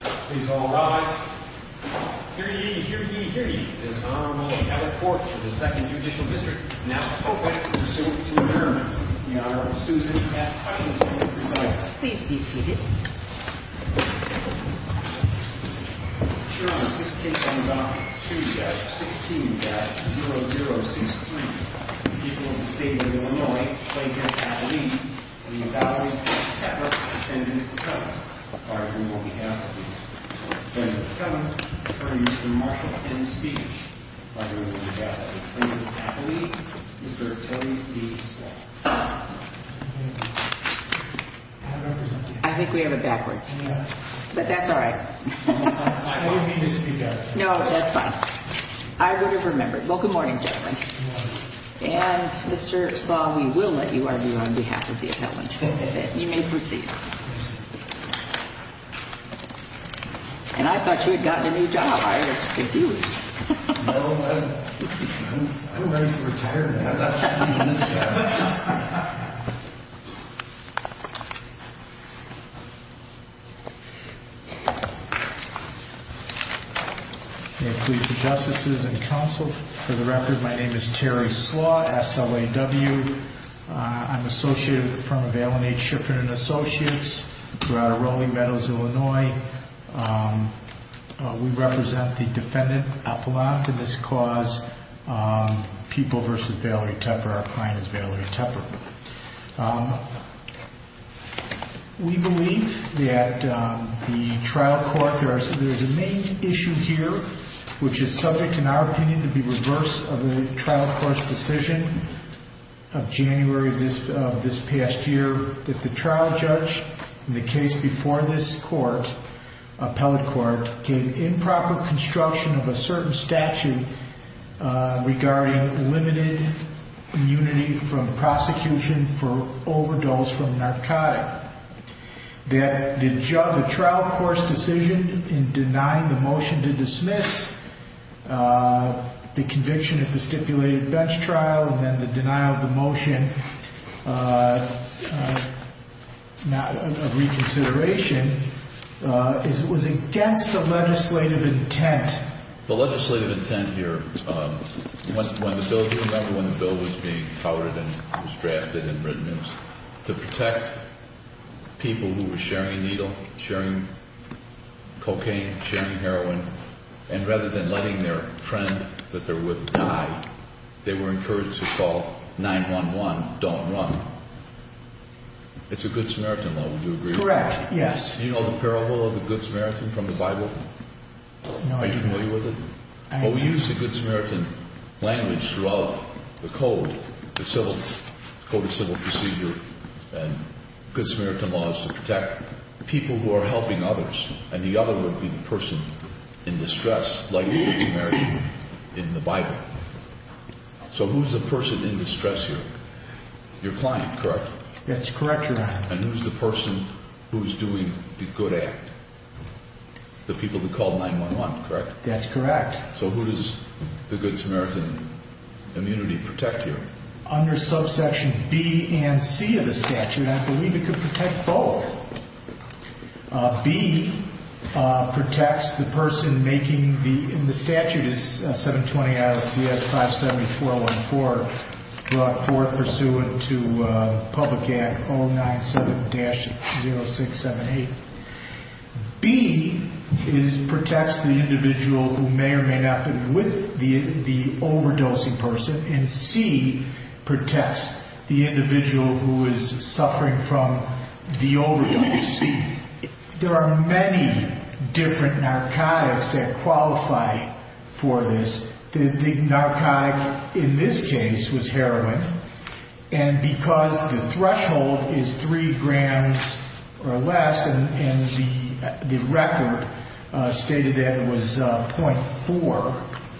Please all rise. Hear ye, hear ye, hear ye. It is an honor to welcome you to the court of the 2nd Judicial District. It is now appropriate to resume to adjourn. The Honorable Susan F. Hutchinson will present. Please be seated. Your Honor, this case comes on Tuesday, 16-0063. The people of the state of Illinois claim that Kathleen, the invalid Teper, attended the court. Our approval will be halved. The plaintiff comes before you, Mr. Marshall, in speech. Our approval will be halved. The plaintiff, Kathleen, Mr. Kelly D. Slaw. I think we have it backwards. But that's all right. I don't need to speak up. No, that's fine. I would have remembered. Well, good morning, gentlemen. And, Mr. Slaw, we will let you argue on behalf of the appellant. You may proceed. And I thought you had gotten a new job. I was confused. No, I'm ready to retire now. That's how it is. May it please the justices and counsel, for the record, my name is Terry Slaw, S-L-A-W. I'm associated with the firm of Allen H. Shiffrin & Associates. We're out of Raleigh Meadows, Illinois. We represent the defendant appellant in this cause, People v. Valerie Teper. Our client is Valerie Teper. We believe that the trial court, there is a main issue here, which is subject, in our opinion, to be reverse of the trial court's decision. Of January of this past year, that the trial judge, in the case before this court, appellate court, gave improper construction of a certain statute regarding limited immunity from prosecution for overdose from narcotic. That the trial court's decision in denying the motion to dismiss the conviction of the stipulated bench trial, and then the denial of the motion of reconsideration, was against the legislative intent. The legislative intent here, when the bill, do you remember when the bill was being touted and was drafted and written? It was to protect people who were sharing needle, sharing cocaine, sharing heroin, and rather than letting their friend that they're with die, they were encouraged to call 911, don't run. It's a Good Samaritan law, would you agree with that? Correct, yes. Do you know the parable of the Good Samaritan from the Bible? No. Are you familiar with it? I am. Well, we use the Good Samaritan language throughout the code, the code of civil procedure, and Good Samaritan law is to protect people who are helping others, and the other would be the person in distress, like the Good Samaritan in the Bible. So who's the person in distress here? Your client, correct? That's correct, Your Honor. And who's the person who's doing the good act? The people who called 911, correct? That's correct. So who does the Good Samaritan immunity protect here? Under subsections B and C of the statute, I believe it could protect both. B protects the person making the, and the statute is 720 IOCS 57414, brought forth pursuant to Public Act 097-0678. B protects the individual who may or may not have been with the overdosing person, and C protects the individual who is suffering from the overdose. There are many different narcotics that qualify for this. The narcotic in this case was heroin, and because the threshold is three grams or less, and the record stated that it was 0.4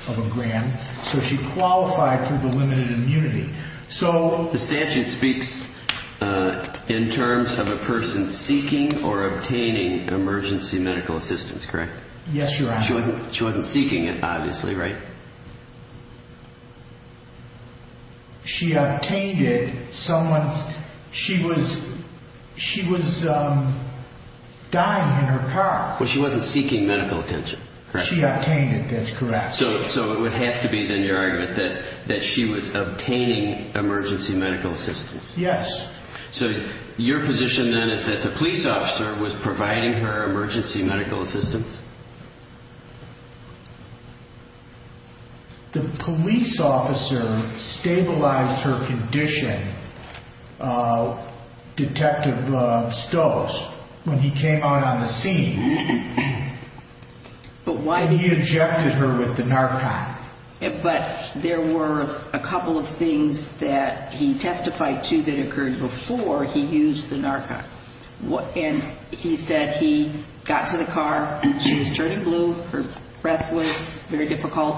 of a gram, so she qualified for the limited immunity. The statute speaks in terms of a person seeking or obtaining emergency medical assistance, correct? Yes, Your Honor. She wasn't seeking it, obviously, right? She obtained it. She was dying in her car. Well, she wasn't seeking medical attention, correct? She obtained it, that's correct. So it would have to be, then, your argument that she was obtaining emergency medical assistance? Yes. So your position, then, is that the police officer was providing her emergency medical assistance? The police officer stabilized her condition, Detective Stoss, when he came out on the scene. And he ejected her with the narcotic? But there were a couple of things that he testified to that occurred before he used the narcotic. And he said he got to the car, she was turning blue, her breath was very difficult,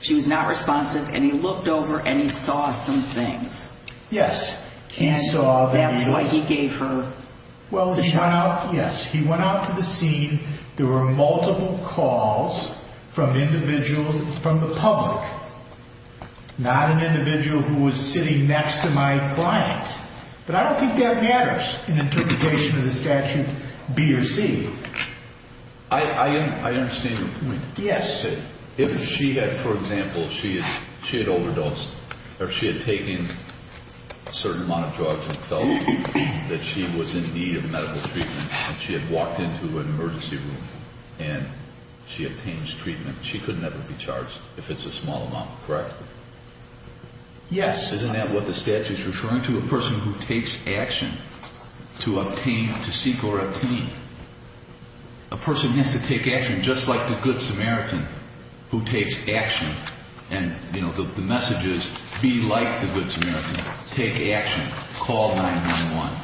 she was not responsive, and he looked over and he saw some things. Yes. And that's why he gave her the shot? Well, yes. He went out to the scene. There were multiple calls from individuals, from the public. Not an individual who was sitting next to my client. But I don't think that matters in interpretation of the statute, B or C. I understand your point. Yes. If she had, for example, she had overdosed or she had taken a certain amount of drugs and felt that she was in need of medical treatment and she had walked into an emergency room and she obtained treatment, she could never be charged if it's a small amount, correct? Yes. Isn't that what the statute is referring to? A person who takes action to obtain, to seek or obtain. A person has to take action just like the Good Samaritan who takes action. And, you know, the message is be like the Good Samaritan. Take action. Call 911.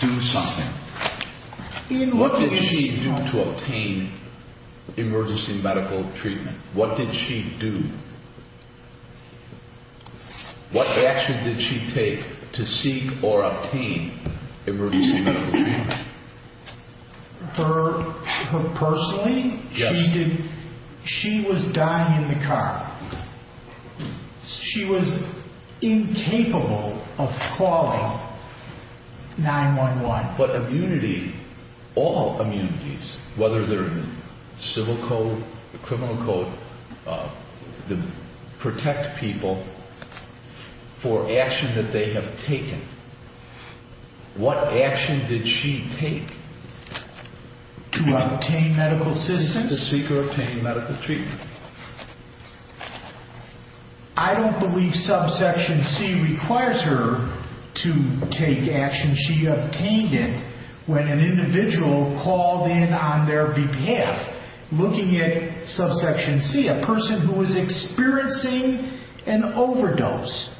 Do something. What did she do to obtain emergency medical treatment? What did she do? What action did she take to seek or obtain emergency medical treatment? Her personally? Yes. She was dying in the car. She was incapable of calling 911. But immunity, all immunities, whether they're in civil code, criminal code, protect people for action that they have taken. What action did she take to obtain medical assistance? To seek or obtain medical treatment. I don't believe subsection C requires her to take action she obtained it when an individual called in on their behalf looking at subsection C. A person who is experiencing an overdose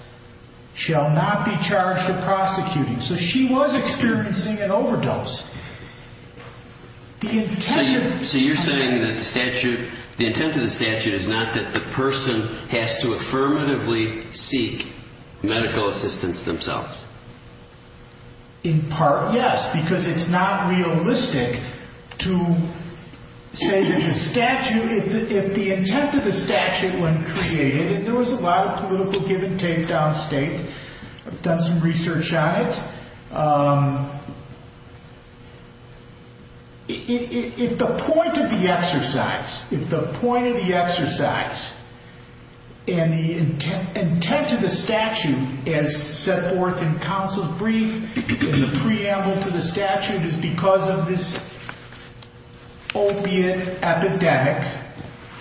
shall not be charged with prosecuting. So she was experiencing an overdose. So you're saying that the statute, the intent of the statute is not that the person has to affirmatively seek medical assistance themselves? In part, yes, because it's not realistic to say that the statute, if the intent of the statute when created, and there was a lot of political give and take downstate. I've done some research on it. If the point of the exercise, if the point of the exercise and the intent of the statute is set forth in counsel's brief, and the preamble to the statute is because of this opiate epidemic,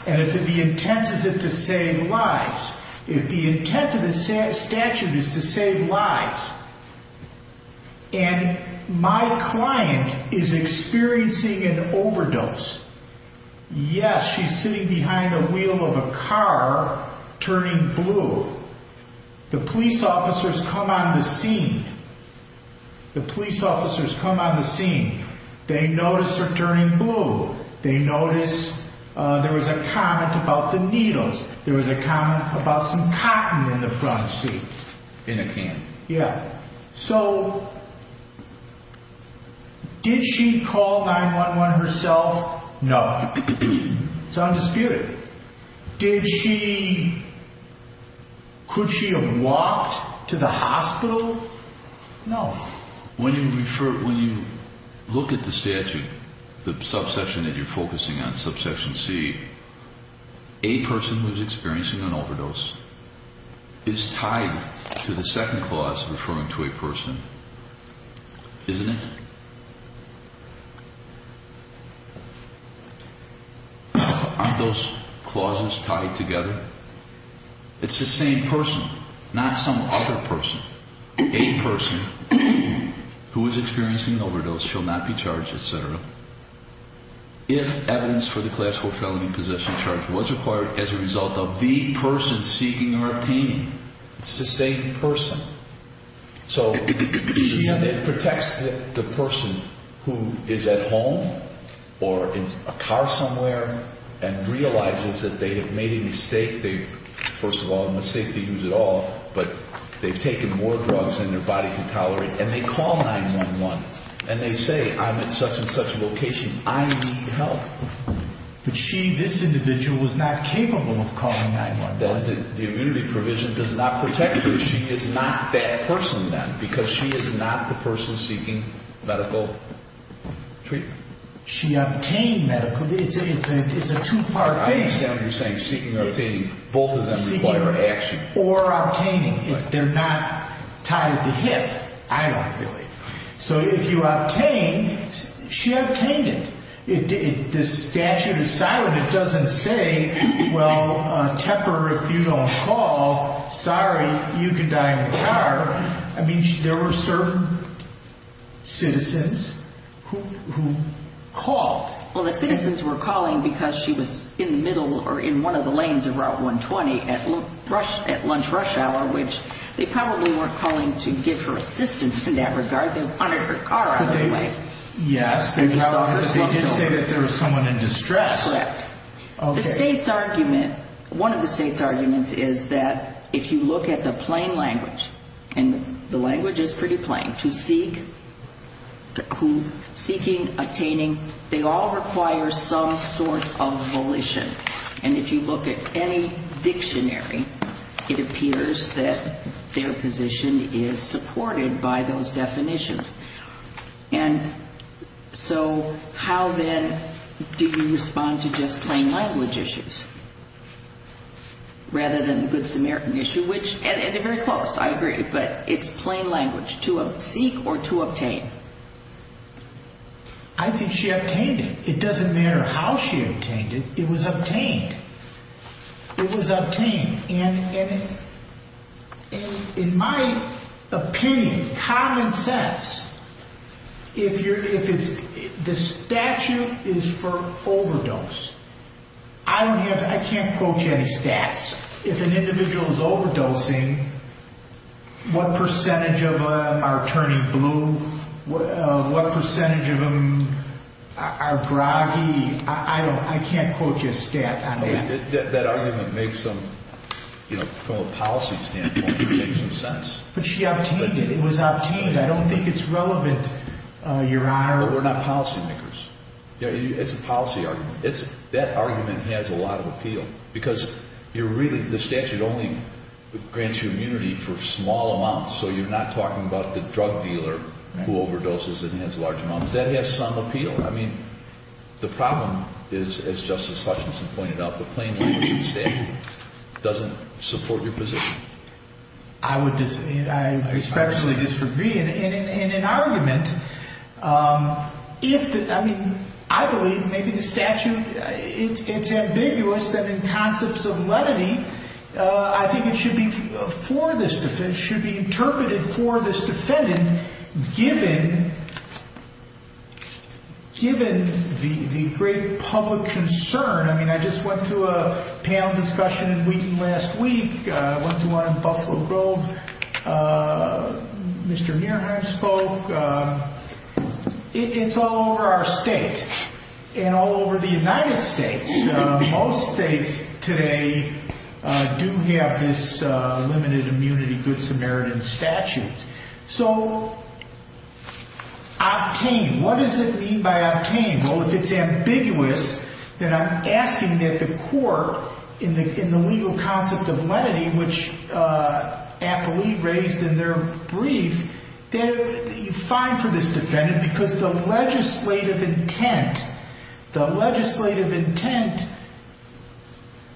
and if the intent is it to save lives, if the intent of the statute is to save lives, and my client is experiencing an overdose, yes, she's sitting behind the wheel of a car turning blue. The police officers come on the scene. The police officers come on the scene. They notice her turning blue. They notice there was a comment about the needles. There was a comment about some cotton in the front seat. In a can. Yeah. So did she call 911 herself? No. It's undisputed. Did she, could she have walked to the hospital? No. When you refer, when you look at the statute, the subsection that you're focusing on, subsection C, a person who's experiencing an overdose is tied to the second clause referring to a person, isn't it? Aren't those clauses tied together? It's the same person, not some other person. A person who is experiencing an overdose shall not be charged, et cetera, if evidence for the class 4 felony possession charge was required as a result of the person seeking or obtaining. It's the same person. So she protects the person who is at home or in a car somewhere and realizes that they have made a mistake. First of all, a mistake to use at all, but they've taken more drugs than their body can tolerate, and they call 911, and they say, I'm at such and such a location. I need help. But she, this individual, was not capable of calling 911. The immunity provision does not protect her. She is not that person, then, because she is not the person seeking medical treatment. She obtained medical. It's a two-part case. I understand what you're saying, seeking or obtaining. Both of them require action. Or obtaining. They're not tied at the hip, I don't believe. So if you obtain, she obtained it. The statute is silent. It doesn't say, well, Tepper, if you don't call, sorry, you can die in the car. I mean, there were certain citizens who called. Well, the citizens were calling because she was in the middle or in one of the lanes of Route 120 at lunch rush hour, which they probably weren't calling to give her assistance in that regard. They wanted her car out of the way. Yes, they did say that there was someone in distress. Correct. The state's argument, one of the state's arguments, is that if you look at the plain language, and the language is pretty plain, to seek, obtaining, they all require some sort of volition. And if you look at any dictionary, it appears that their position is supported by those definitions. And so how then do you respond to just plain language issues rather than the Good Samaritan issue, which, and they're very close, I agree, but it's plain language, to seek or to obtain. I think she obtained it. It doesn't matter how she obtained it. It was obtained. It was obtained. And in my opinion, common sense, if the statute is for overdose, I can't quote you any stats. If an individual is overdosing, what percentage of them are turning blue? What percentage of them are groggy? I can't quote you a stat on that. That argument makes some, from a policy standpoint, makes some sense. But she obtained it. It was obtained. I don't think it's relevant, Your Honor. But we're not policy makers. It's a policy argument. That argument has a lot of appeal because you're really, the statute only grants you immunity for small amounts, so you're not talking about the drug dealer who overdoses and has large amounts. That has some appeal. I mean, the problem is, as Justice Hutchinson pointed out, the plain language statute doesn't support your position. I would especially disagree. In an argument, if the, I mean, I believe maybe the statute, it's ambiguous that in concepts of lenity, I think it should be for this defendant, it should be interpreted for this defendant given the great public concern. I mean, I just went to a panel discussion in Wheaton last week. I went to one in Buffalo Grove. Mr. Nearheim spoke. It's all over our state and all over the United States. Most states today do have this limited immunity Good Samaritan statute. So, octane, what does it mean by octane? Well, if it's ambiguous, then I'm asking that the court, in the legal concept of lenity, which Apolli raised in their brief, fine for this defendant because the legislative intent, the legislative intent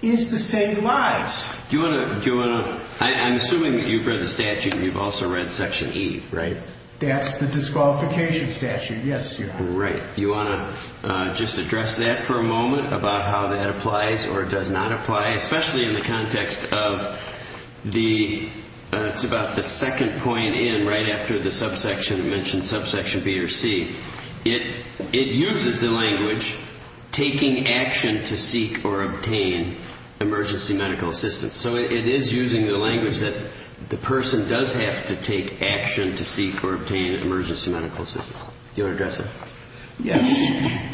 is to save lives. Do you want to, I'm assuming that you've read the statute and you've also read section E, right? That's the disqualification statute, yes. Right. Do you want to just address that for a moment about how that applies or does not apply, especially in the context of the, it's about the second point in, right after the subsection, you mentioned subsection B or C. It uses the language taking action to seek or obtain emergency medical assistance. So it is using the language that the person does have to take action to seek or obtain emergency medical assistance. Do you want to address that? Yes. Thank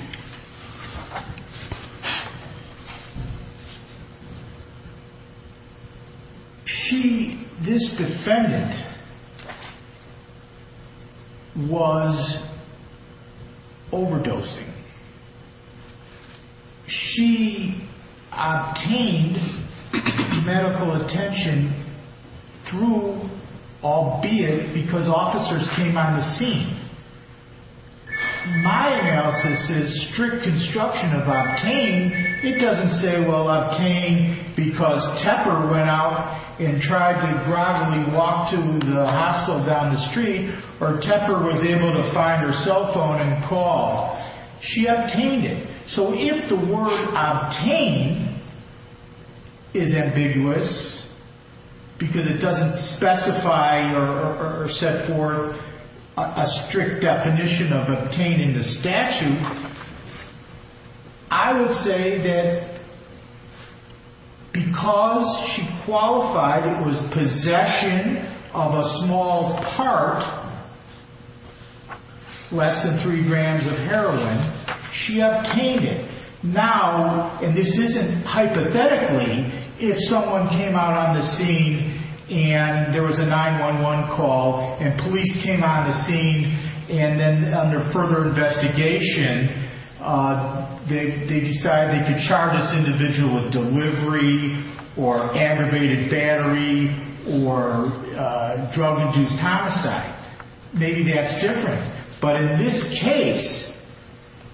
you. She, this defendant, was overdosing. She obtained medical attention through, albeit, because officers came on the scene. My analysis is strict construction of obtain. It doesn't say, well, obtain because Tepper went out and tried to broadly walk to the hospital down the street or Tepper was able to find her cell phone and call. She obtained it. So if the word obtain is ambiguous because it doesn't specify or set forth a strict definition of obtaining the statute, I would say that because she qualified it was possession of a small part, less than three grams of heroin, she obtained it. Now, and this isn't hypothetically, if someone came out on the scene and there was a 911 call and police came on the scene and then under further investigation, they decided they could charge this individual with delivery or aggravated battery or drug-induced homicide. Maybe that's different. But in this case,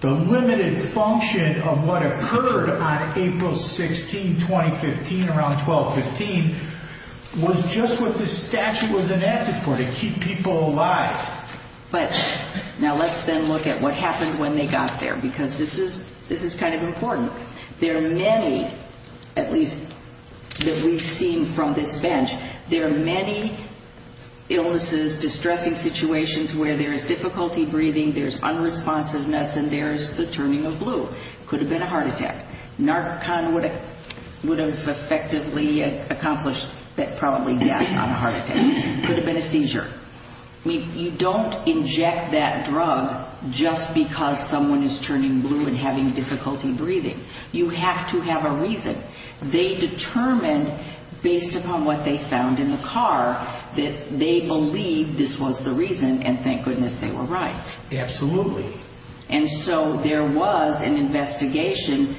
the limited function of what occurred on April 16, 2015, around 12-15, was just what the statute was enacted for, to keep people alive. But now let's then look at what happened when they got there because this is kind of important. There are many, at least that we've seen from this bench, there are many illnesses, distressing situations where there is difficulty breathing, there's unresponsiveness, and there's the turning of blue. Could have been a heart attack. Narcon would have effectively accomplished probably death on a heart attack. Could have been a seizure. I mean, you don't inject that drug just because someone is turning blue and having difficulty breathing. You have to have a reason. They determined, based upon what they found in the car, that they believed this was the reason, and thank goodness they were right. Absolutely. And so there was an investigation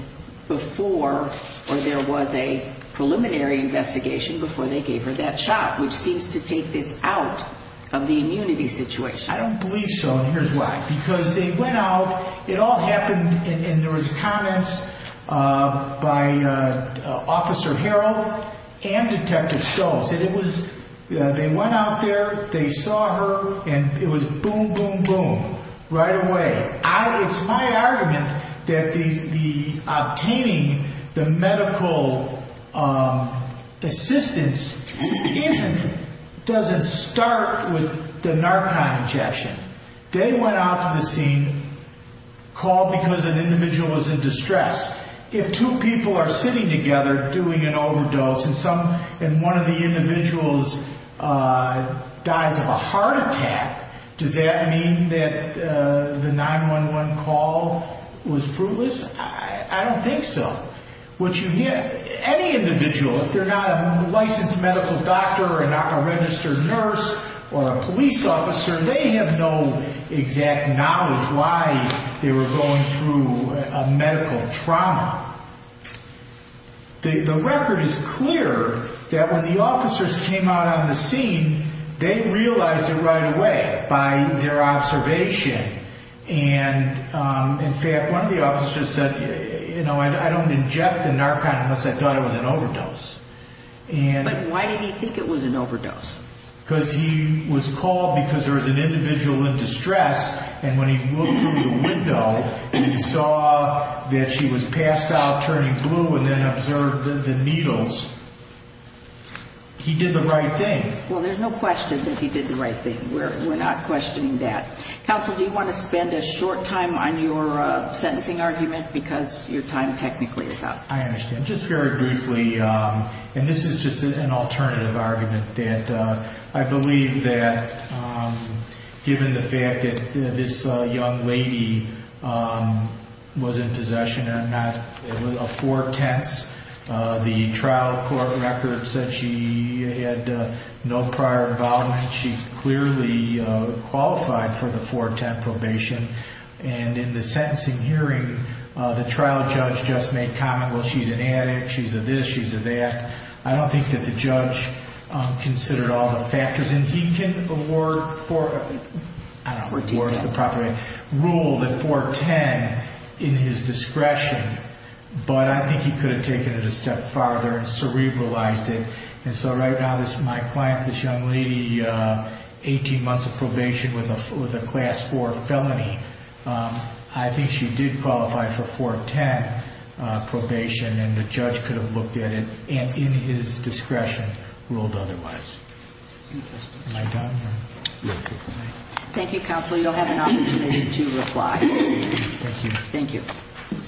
before, or there was a preliminary investigation before they gave her that shot, which seems to take this out of the immunity situation. I don't believe so, and here's why. Because they went out, it all happened, and there was comments by Officer Harrell and Detective Stolz. They went out there, they saw her, and it was boom, boom, boom right away. It's my argument that obtaining the medical assistance doesn't start with the narcon injection. They went out to the scene, called because an individual was in distress. If two people are sitting together doing an overdose and one of the individuals dies of a heart attack, does that mean that the 911 call was fruitless? I don't think so. Any individual, if they're not a licensed medical doctor or not a registered nurse or a police officer, they have no exact knowledge why they were going through a medical trauma. The record is clear that when the officers came out on the scene, they realized it right away by their observation. And, in fact, one of the officers said, you know, I don't inject the narcon unless I thought it was an overdose. But why did he think it was an overdose? Because he was called because there was an individual in distress, and when he looked through the window, he saw that she was passed out, turning blue, and then observed the needles. He did the right thing. Well, there's no question that he did the right thing. We're not questioning that. Counsel, do you want to spend a short time on your sentencing argument because your time technically is up? I understand. Just very briefly, and this is just an alternative argument, that I believe that given the fact that this young lady was in possession of not a four-tenths, the trial court record said she had no prior involvement. She clearly qualified for the four-tenth probation. And in the sentencing hearing, the trial judge just made comment, well, she's an addict. She's a this. She's a that. I don't think that the judge considered all the factors. And he can award four, I don't know if four is the proper way, rule that four-tenths in his discretion, but I think he could have taken it a step farther and cerebralized it. And so right now, this is my client, this young lady, 18 months of probation with a class four felony. I think she did qualify for four-tenth probation, and the judge could have looked at it in his discretion and ruled otherwise. Am I done? Thank you, counsel. You'll have an opportunity to reply. Thank you. Thank you. Mr.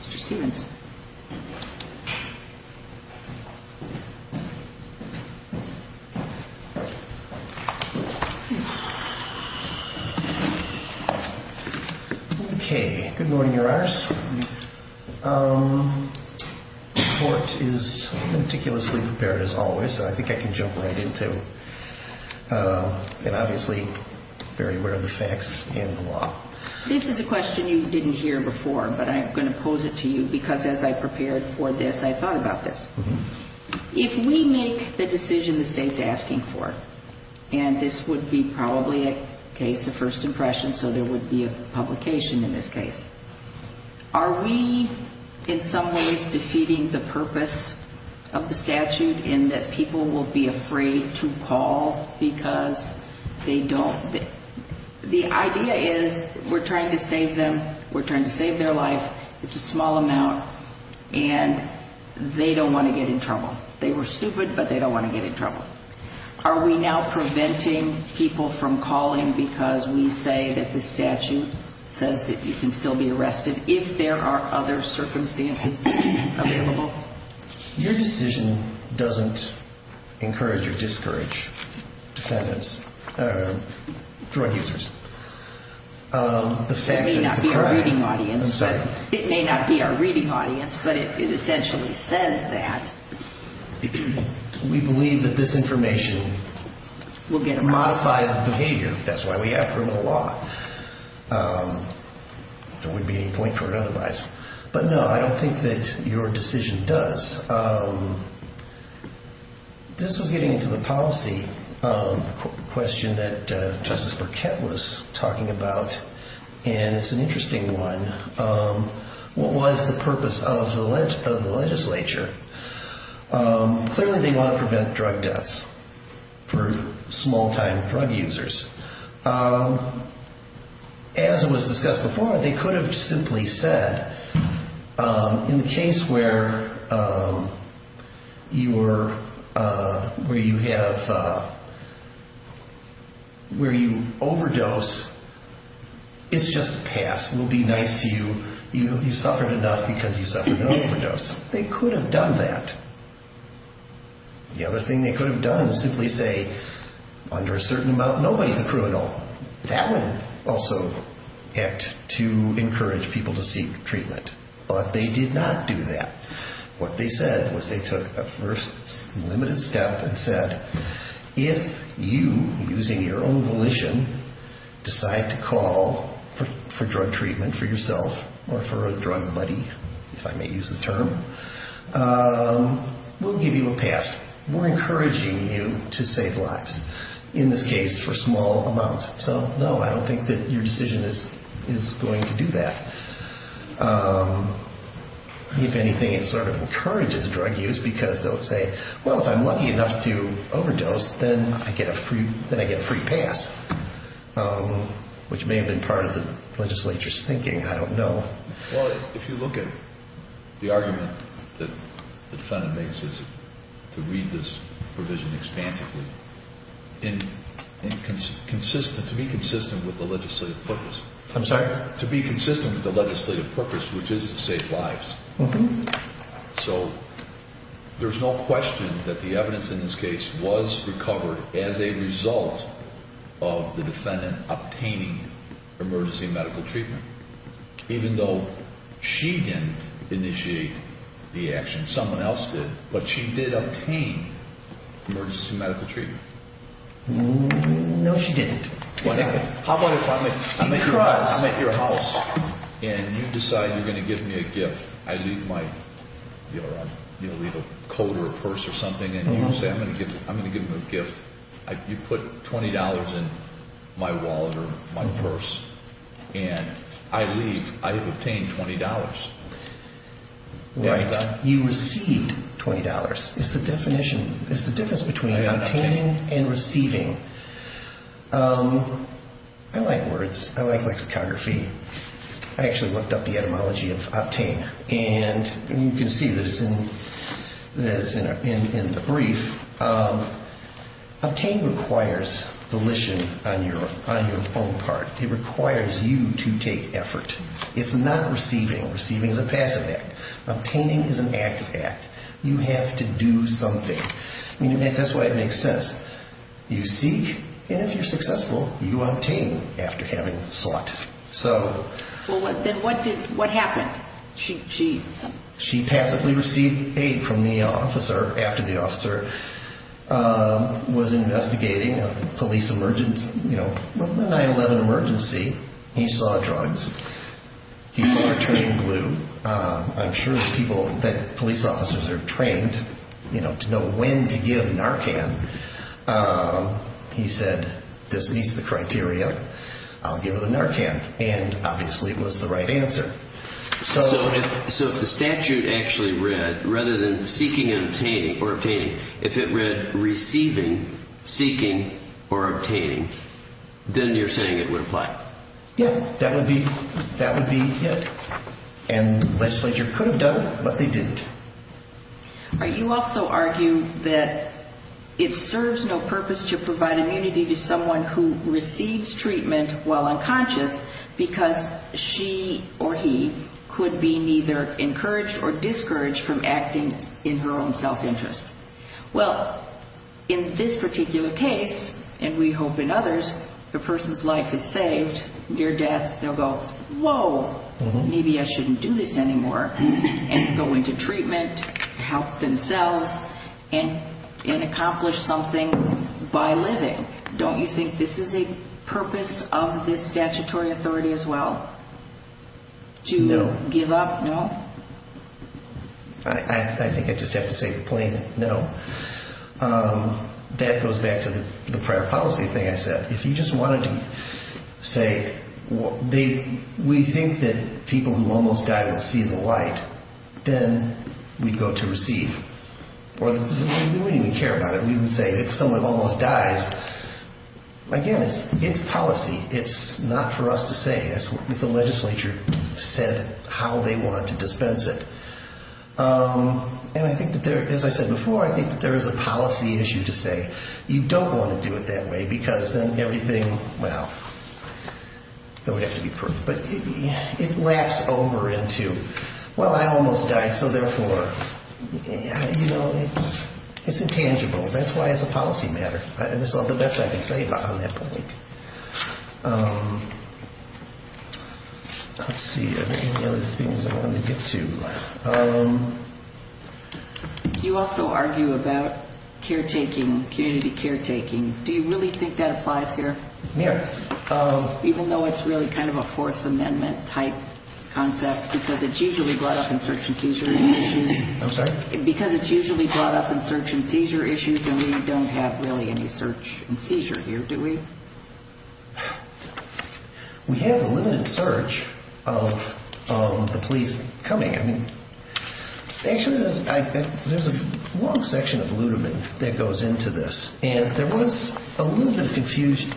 Stevenson. Okay. Good morning, Your Honors. Good morning. The court is meticulously prepared, as always. I think I can jump right into it. Obviously, very aware of the facts and the law. This is a question you didn't hear before, but I'm going to pose it to you, because as I prepared for this, I thought about this. If we make the decision the State's asking for, and this would be probably a case of first impression, so there would be a publication in this case, are we in some ways defeating the purpose of the statute in that people will be afraid to call because they don't? The idea is we're trying to save them, we're trying to save their life. It's a small amount, and they don't want to get in trouble. They were stupid, but they don't want to get in trouble. Are we now preventing people from calling because we say that this statute says that you can still be arrested if there are other circumstances available? Your decision doesn't encourage or discourage drug users. It may not be our reading audience, but it essentially says that. We believe that this information will modify the behavior. That's why we have criminal law. But no, I don't think that your decision does. This was getting into the policy question that Justice Burkett was talking about, and it's an interesting one. What was the purpose of the legislature? Clearly, they want to prevent drug deaths for small-time drug users. As was discussed before, they could have simply said, in the case where you overdose, it's just a pass. We'll be nice to you. You suffered enough because you suffered an overdose. They could have done that. The other thing they could have done is simply say, under a certain amount, nobody's a criminal. That would also act to encourage people to seek treatment. But they did not do that. What they said was they took a first limited step and said, if you, using your own volition, decide to call for drug treatment for yourself or for a drug buddy, if I may use the term, we'll give you a pass. We're encouraging you to save lives, in this case for small amounts. So, no, I don't think that your decision is going to do that. If anything, it sort of encourages drug use because they'll say, well, if I'm lucky enough to overdose, then I get a free pass, which may have been part of the legislature's thinking. I don't know. Well, if you look at the argument that the defendant makes, to read this provision expansively, to be consistent with the legislative purpose. I'm sorry? To be consistent with the legislative purpose, which is to save lives. So there's no question that the evidence in this case was recovered as a result of the defendant obtaining emergency medical treatment. Even though she didn't initiate the action, someone else did, but she did obtain emergency medical treatment. No, she didn't. How about if I'm at your house and you decide you're going to give me a gift, and I leave my coat or a purse or something, and you say I'm going to give you a gift. You put $20 in my wallet or my purse, and I leave. I have obtained $20. You received $20. It's the difference between obtaining and receiving. I like words. I like lexicography. I actually looked up the etymology of obtain, and you can see that it's in the brief. Obtain requires volition on your own part. It requires you to take effort. It's not receiving. Receiving is a passive act. Obtaining is an active act. You have to do something. That's why it makes sense. You seek, and if you're successful, you obtain after having sought. Then what happened? She passively received aid from the officer after the officer was investigating a police emergency, a 9-11 emergency. He saw drugs. He saw her turning blue. I'm sure that police officers are trained to know when to give Narcan. He said, this meets the criteria. I'll give her the Narcan, and obviously it was the right answer. So if the statute actually read, rather than seeking or obtaining, if it read receiving, seeking, or obtaining, then you're saying it would apply? Yeah, that would be it, and the legislature could have done it, but they didn't. You also argue that it serves no purpose to provide immunity to someone who receives treatment while unconscious, because she or he could be neither encouraged or discouraged from acting in her own self-interest. Well, in this particular case, and we hope in others, the person's life is saved. Near death, they'll go, whoa, maybe I shouldn't do this anymore, and go into treatment, help themselves, and accomplish something by living. Don't you think this is a purpose of this statutory authority as well, to give up? No. I think I just have to say the plain no. That goes back to the prior policy thing I said. If you just wanted to say we think that people who almost die will see the light, then we'd go to receive. We wouldn't even care about it. We would say if someone almost dies, again, it's policy. It's not for us to say. That's what the legislature said how they want to dispense it, and I think that, as I said before, I think that there is a policy issue to say. You don't want to do it that way because then everything, well, that would have to be proof. But it laps over into, well, I almost died, so therefore, you know, it's intangible. That's why it's a policy matter. That's all the best I can say on that point. Let's see, are there any other things I wanted to get to? You also argue about caretaking, community caretaking. Do you really think that applies here? Yeah. Even though it's really kind of a Fourth Amendment-type concept because it's usually brought up in search and seizure issues. I'm sorry? Because it's usually brought up in search and seizure issues, and we don't have really any search and seizure here, do we? We have a limited search of the police coming in. Actually, there's a long section of Ludeman that goes into this, and there was a little bit of confusing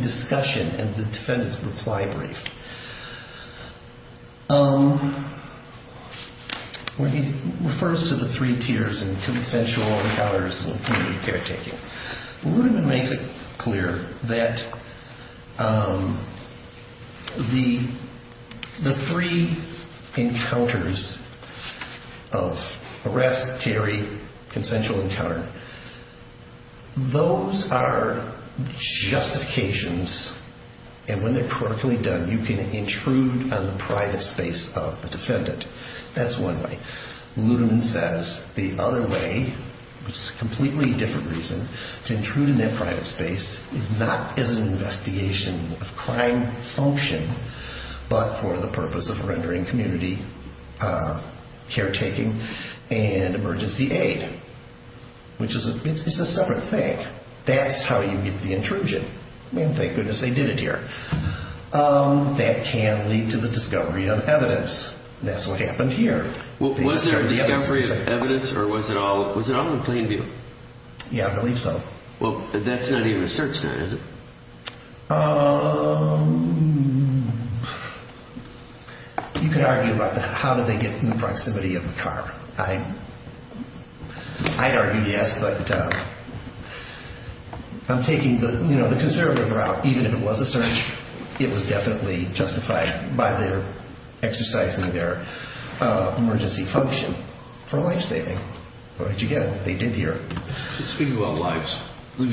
discussion in the defendant's reply brief where he refers to the three tiers in consensual encounters and community caretaking. Ludeman makes it clear that the three encounters of arrest, theory, consensual encounter, those are justifications, and when they're correctly done, you can intrude on the private space of the defendant. That's one way. It's a completely different reason. To intrude in that private space is not as an investigation of crime function, but for the purpose of rendering community caretaking and emergency aid, which is a separate thing. That's how you get the intrusion, and thank goodness they did it here. That can lead to the discovery of evidence. That's what happened here. Was there a discovery of evidence, or was it all in plain view? Yeah, I believe so. Well, that's not even a search, then, is it? You could argue about how did they get in the proximity of the car. I'd argue yes, but I'm taking the conservative route. Even if it was a search, it was definitely justified by their exercising their emergency function for life-saving. But, again, they did here. Speaking about lives, can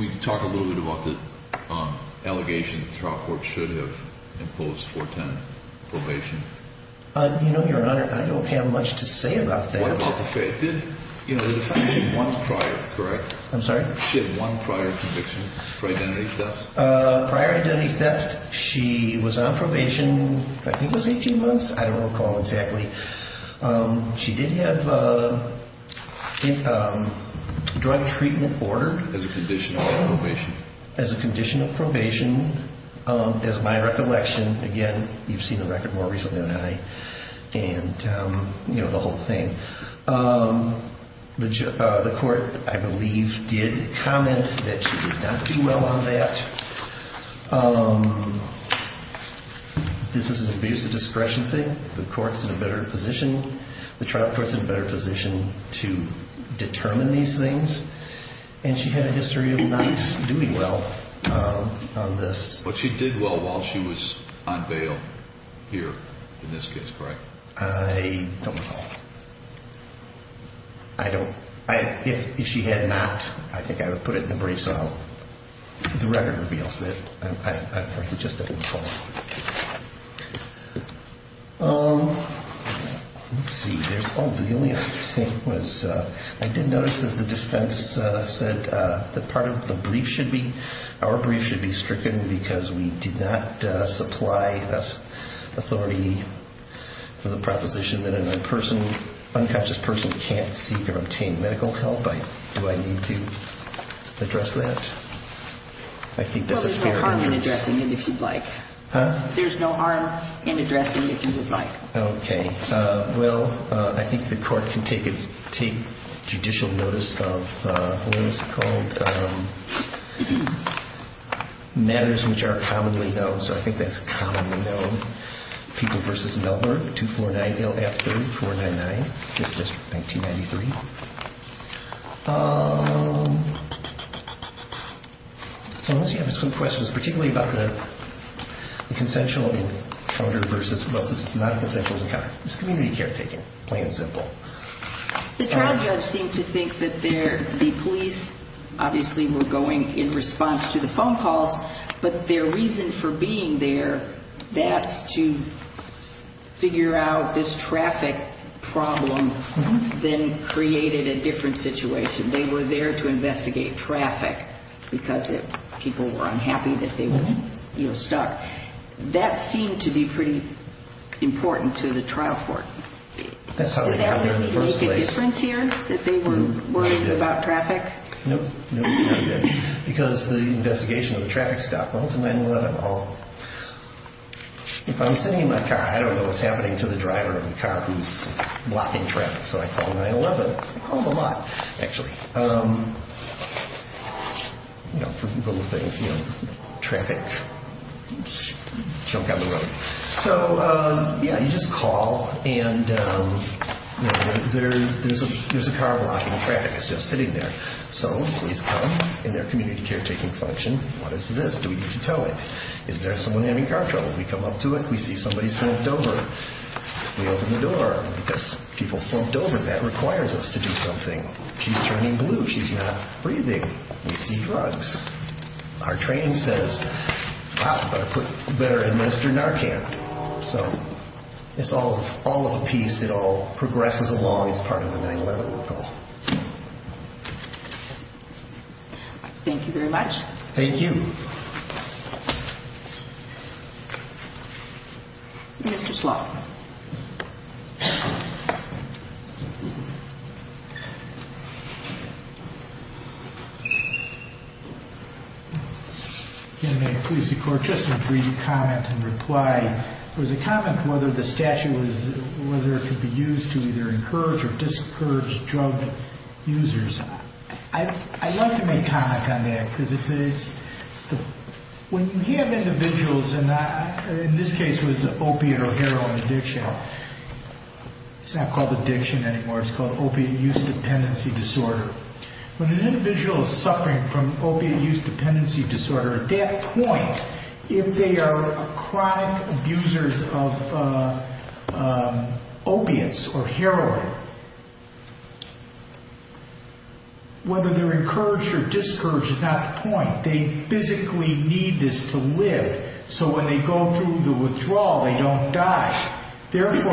we talk a little bit about the allegation that the trial court should have imposed 410 probation? You know, Your Honor, I don't have much to say about that. Why not? You know, the defendant had one prior, correct? I'm sorry? She had one prior conviction for identity theft. Prior identity theft, she was on probation, I think it was 18 months. I don't recall exactly. She did have a drug treatment order. As a condition of probation. As a condition of probation. As my recollection, again, you've seen the record more recently than I, and, you know, the whole thing. The court, I believe, did comment that she did not do well on that. This is an abuse of discretion thing. The court's in a better position. The trial court's in a better position to determine these things. And she had a history of not doing well on this. But she did well while she was on bail here, in this case, correct? I don't recall. I don't. If she had not, I think I would put it in the briefs. The record reveals that. I just didn't recall. Let's see. Oh, the only other thing was I did notice that the defense said that part of the brief should be, our brief should be stricken because we did not supply authority for the proposition that an unconscious person can't seek or obtain medical help. Do I need to address that? Well, there's no harm in addressing it if you'd like. Huh? There's no harm in addressing it if you would like. Okay. Well, I think the court can take judicial notice of what is it called? Matters which are commonly known. So I think that's commonly known. People v. Melbourne, 249-LF3499, 5th District, 1993. So unless you have some questions, particularly about the consensual encounter versus, it's not a consensual encounter. It's community care taken, plain and simple. The trial judge seemed to think that the police, obviously, were going in response to the phone calls, but their reason for being there, that's to figure out this traffic problem then created a different situation. They were there to investigate traffic because people were unhappy that they were stuck. That seemed to be pretty important to the trial court. That's how they got there in the first place. Did that make a difference here, that they were worried about traffic? Nope. Because the investigation of the traffic stopped. Well, it's a 9-11. If I'm sitting in my car, I don't know what's happening to the driver of the car who's blocking traffic, so I call 9-11. I call them a lot, actually. You know, for people with things, you know, traffic. Oops. Chunk on the road. So, yeah, you just call, and there's a car blocking traffic. It's just sitting there. So police come in their community caretaking function. What is this? Do we need to tow it? Is there someone having car trouble? We come up to it. We see somebody slumped over. We open the door because people slumped over. That requires us to do something. She's turning blue. She's not breathing. We see drugs. Our training says, wow, better administer Narcan. So it's all of a piece. It all progresses along as part of a 9-11 recall. Thank you very much. Thank you. Thank you. Mr. Slough. May it please the Court, just a brief comment and reply. It was a comment whether the statute was, whether it could be used to either encourage or discourage drug users. I'd like to make comment on that because it's, when you have individuals, and in this case it was opiate or heroin addiction. It's not called addiction anymore. It's called opiate use dependency disorder. When an individual is suffering from opiate use dependency disorder, at that point, if they are chronic abusers of opiates or heroin, whether they're encouraged or discouraged is not the point. They physically need this to live. So when they go through the withdrawal, they don't die. Therefore,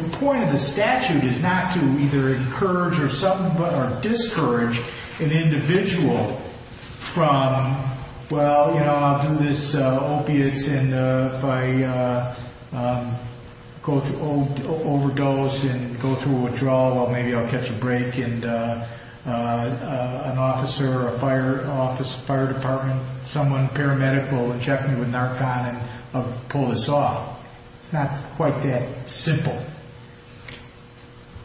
the point of the statute is not to either encourage or discourage an individual from, well, you know, I'll do this opiates, and if I overdose and go through a withdrawal, well, maybe I'll catch a break, and an officer, a fire department, someone paramedical will check me with Narcon and I'll pull this off. It's not quite that simple.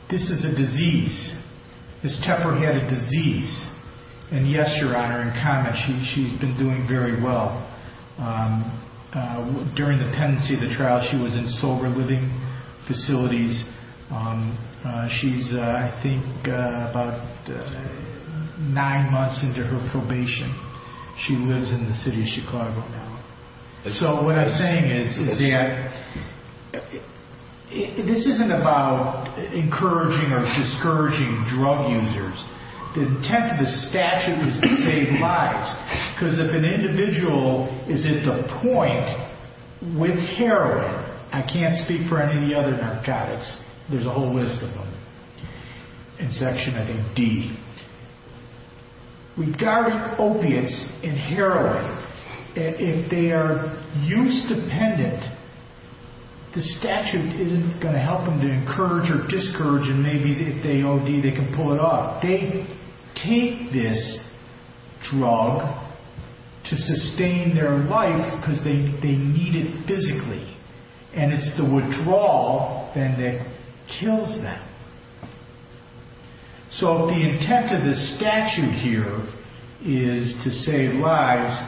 This is a disease. Ms. Tepper had a disease. And, yes, Your Honor, in comment, she's been doing very well. During the pendency of the trial, she was in sober living facilities. She's, I think, about nine months into her probation. She lives in the city of Chicago now. So what I'm saying is that this isn't about encouraging or discouraging drug users. The intent of the statute is to save lives, because if an individual is at the point with heroin, I can't speak for any of the other narcotics. There's a whole list of them in Section, I think, D. Regarding opiates and heroin, if they are use-dependent, the statute isn't going to help them to encourage or discourage, and maybe if they OD, they can pull it off. They take this drug to sustain their life because they need it physically, and it's the withdrawal that kills them. So the intent of the statute here is to save lives,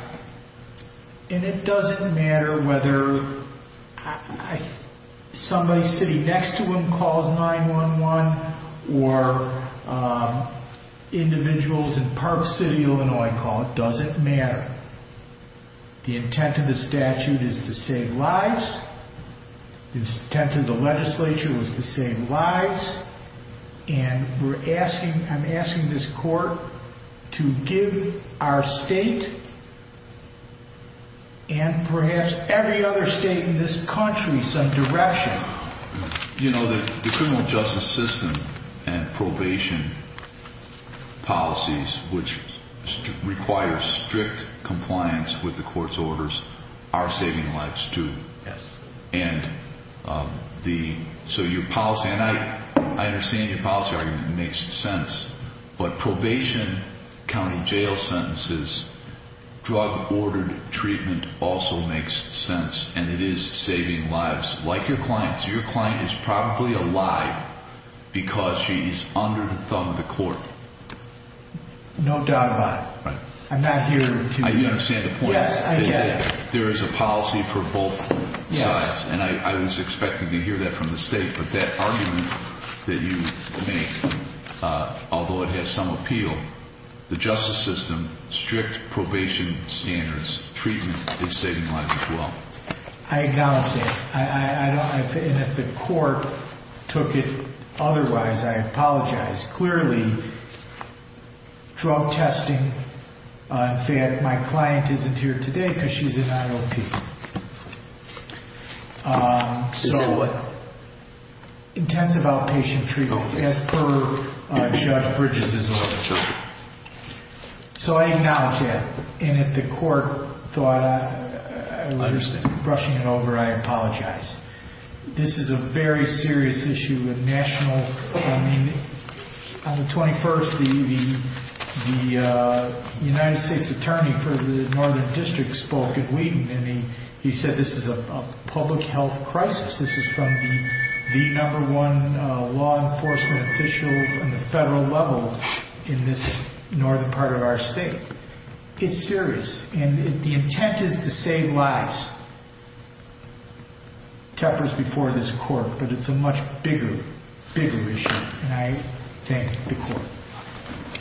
and it doesn't matter whether somebody sitting next to them calls 911 or individuals in Park City, Illinois call. It doesn't matter. The intent of the statute is to save lives. The intent of the legislature was to save lives, and I'm asking this court to give our state and perhaps every other state in this country some direction. You know, the criminal justice system and probation policies, which require strict compliance with the court's orders, are saving lives, too. Yes. And so your policy, and I understand your policy argument makes sense, but probation, county jail sentences, drug-ordered treatment also makes sense, and it is saving lives, like your clients. Your client is probably alive because she's under the thumb of the court. No doubt about it. Right. I'm not here to— I understand the point. Yes, I get it. There is a policy for both sides, and I was expecting to hear that from the state, but that argument that you make, although it has some appeal, the justice system, strict probation standards, treatment is saving lives as well. I acknowledge that, and if the court took it otherwise, I apologize. Clearly, drug testing, in fact, my client isn't here today because she's an IOP. So what? Intensive outpatient treatment, as per Judge Bridges' order. So I acknowledge that, and if the court thought I was brushing it over, I apologize. This is a very serious issue. On the 21st, the United States Attorney for the Northern District spoke at Wheaton, and he said this is a public health crisis. This is from the number one law enforcement official on the federal level in this northern part of our state. It's serious, and the intent is to save lives. It tempers before this court, but it's a much bigger, bigger issue, and I thank the court.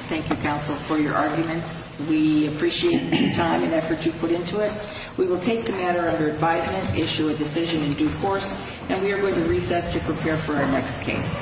Thank you, counsel, for your arguments. We appreciate the time and effort you put into it. We will take the matter under advisement, issue a decision in due course, and we are going to recess to prepare for our next case.